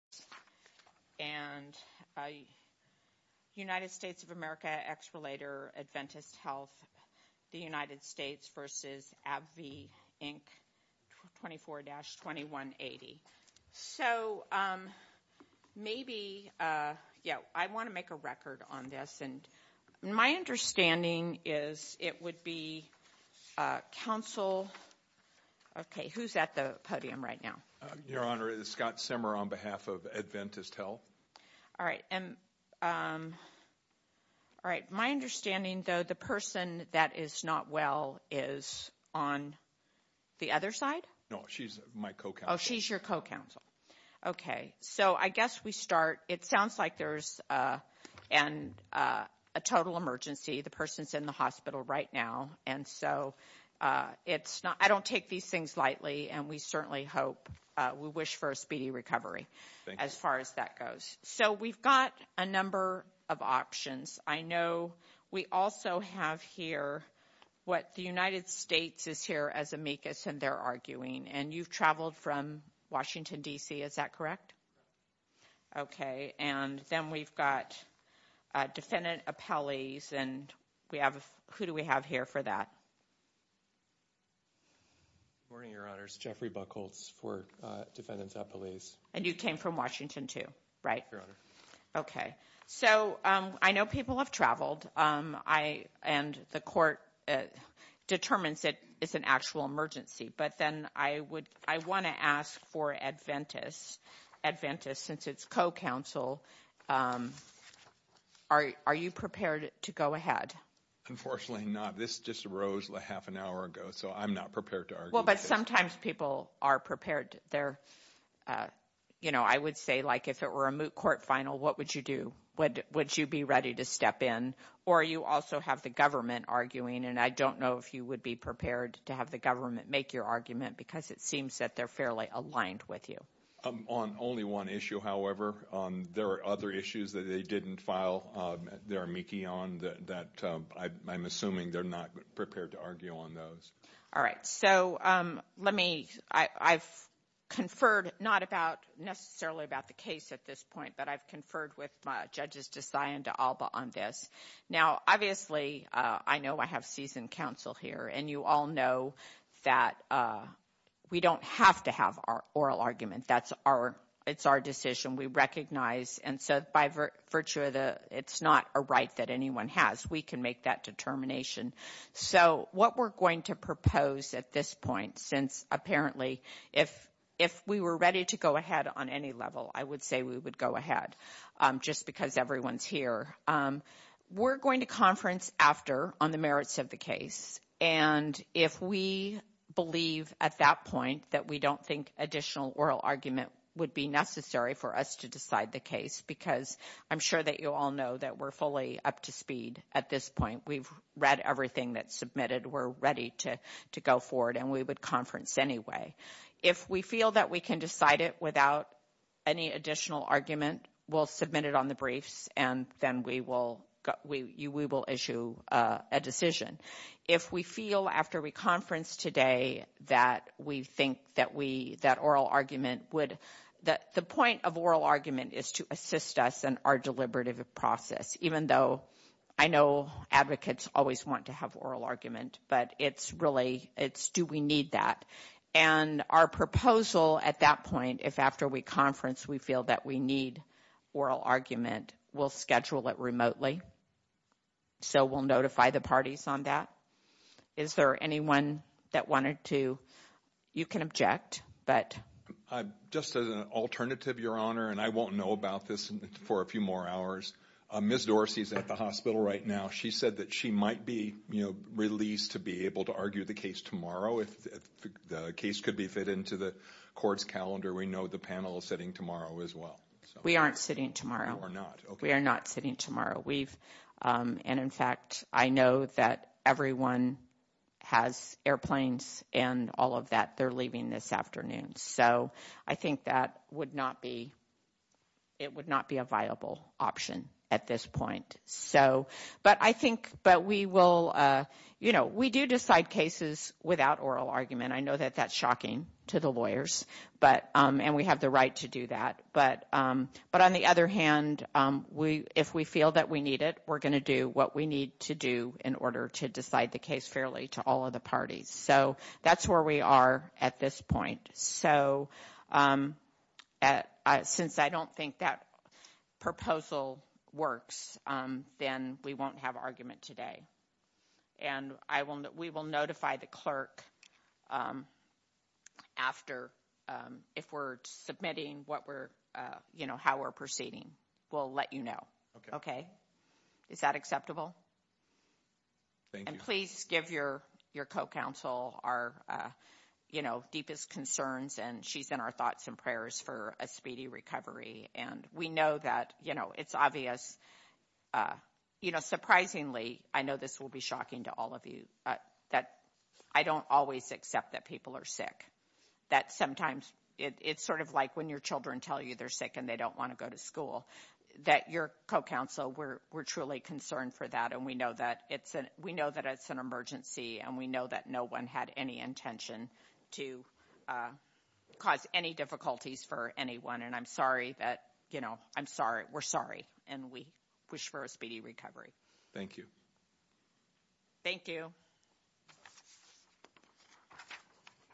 and United States of America X-Relator Adventist Health the United States versus AbbVie Inc. 24-2180. So maybe yeah I want to make a record on this and my understanding is it would be counsel okay who's at the podium right now your honor is Scott Simmer on behalf of Adventist Health all right and all right my understanding though the person that is not well is on the other side no she's my co-co-co she's your co-counsel okay so I guess we start it sounds like there's and a total emergency the person's in the hospital right now and so it's not I don't take these things lightly and we certainly hope we wish for a speedy recovery as far as that goes so we've got a number of options I know we also have here what the United States is here as amicus and they're arguing and you've traveled from Washington DC is that correct okay and then we've got defendant appellees and we have who do we have here for that morning your honor's Jeffrey buckles for defendants at police and you came from Washington to write your honor okay so I know people have traveled I and the court determines it is an actual emergency but then I would I want to ask for Adventist Adventist since its co-counsel are you prepared to go ahead unfortunately not this just arose like half an hour ago so I'm not prepared to argue well but sometimes people are prepared there you know I would say like if it were a moot court final what would you do what would you be ready to step in or you also have the government arguing and I don't know if you would be prepared to have the government make your argument because it seems that they're fairly aligned with you I'm on only one issue however on there are other issues that they didn't file their mickey on that I'm assuming they're not prepared to argue on those all right so let me I've conferred not about necessarily about the case at this point but I've conferred with judges to sign into Alba on this now obviously I know I have seasoned counsel here and you all know that we don't have to have our oral argument that's our it's our we recognize and so by virtue of the it's not a right that anyone has we can make that determination so what we're going to propose at this point since apparently if if we were ready to go ahead on any level I would say we would go ahead just because everyone's here we're going to conference after on the merits of the case and if we believe at that point that we don't think additional oral argument would be necessary for us to decide the case because I'm sure that you all know that we're fully up to speed at this point we've read everything that's submitted we're ready to to go forward and we would conference anyway if we feel that we can decide it without any additional argument we'll submit it on the briefs and then we will we will issue a decision if we feel after we conference today that we think that we that oral argument would that the point of oral argument is to assist us and our deliberative process even though I know advocates always want to have oral argument but it's really it's do we need that and our proposal at that point if after we conference we feel that we need oral argument we'll schedule it remotely so we'll notify the parties on that is there anyone that wanted to you can object but I just as an alternative your honor and I won't know about this for a few more hours miss Dorsey's at the hospital right now she said that she might be you know released to be able to argue the case tomorrow if the case could be fit into the courts calendar we know the panel is sitting tomorrow as well we aren't sitting tomorrow or not we are not sitting tomorrow we've and in fact I know that everyone has airplanes and all of that they're leaving this afternoon so I think that would not be it would not be a viable option at this point so but I think but we will you know we do decide cases without oral argument I know that that's shocking to the lawyers but and we have the right to do that but but on the other hand we if we feel that we need it we're gonna do what we need to do in order to decide the case fairly to all of the parties so that's where we are at this point so at since I don't think that proposal works then we won't have argument today and I won't we will notify the clerk after if we're submitting what we're you know how we're proceeding we'll let you know okay is that acceptable and please give your your co-counsel our you know deepest concerns and she's in our thoughts and prayers for a speedy recovery and we know that you know it's obvious you know surprisingly I know this will be shocking to all of you but that I don't always accept that people are sick that sometimes it's sort of like when your children tell you they're sick and they co-counsel we're we're truly concerned for that and we know that it's an we know that it's an emergency and we know that no one had any intention to cause any difficulties for anyone and I'm sorry that you know I'm sorry we're sorry and we wish for a speedy recovery thank you thank you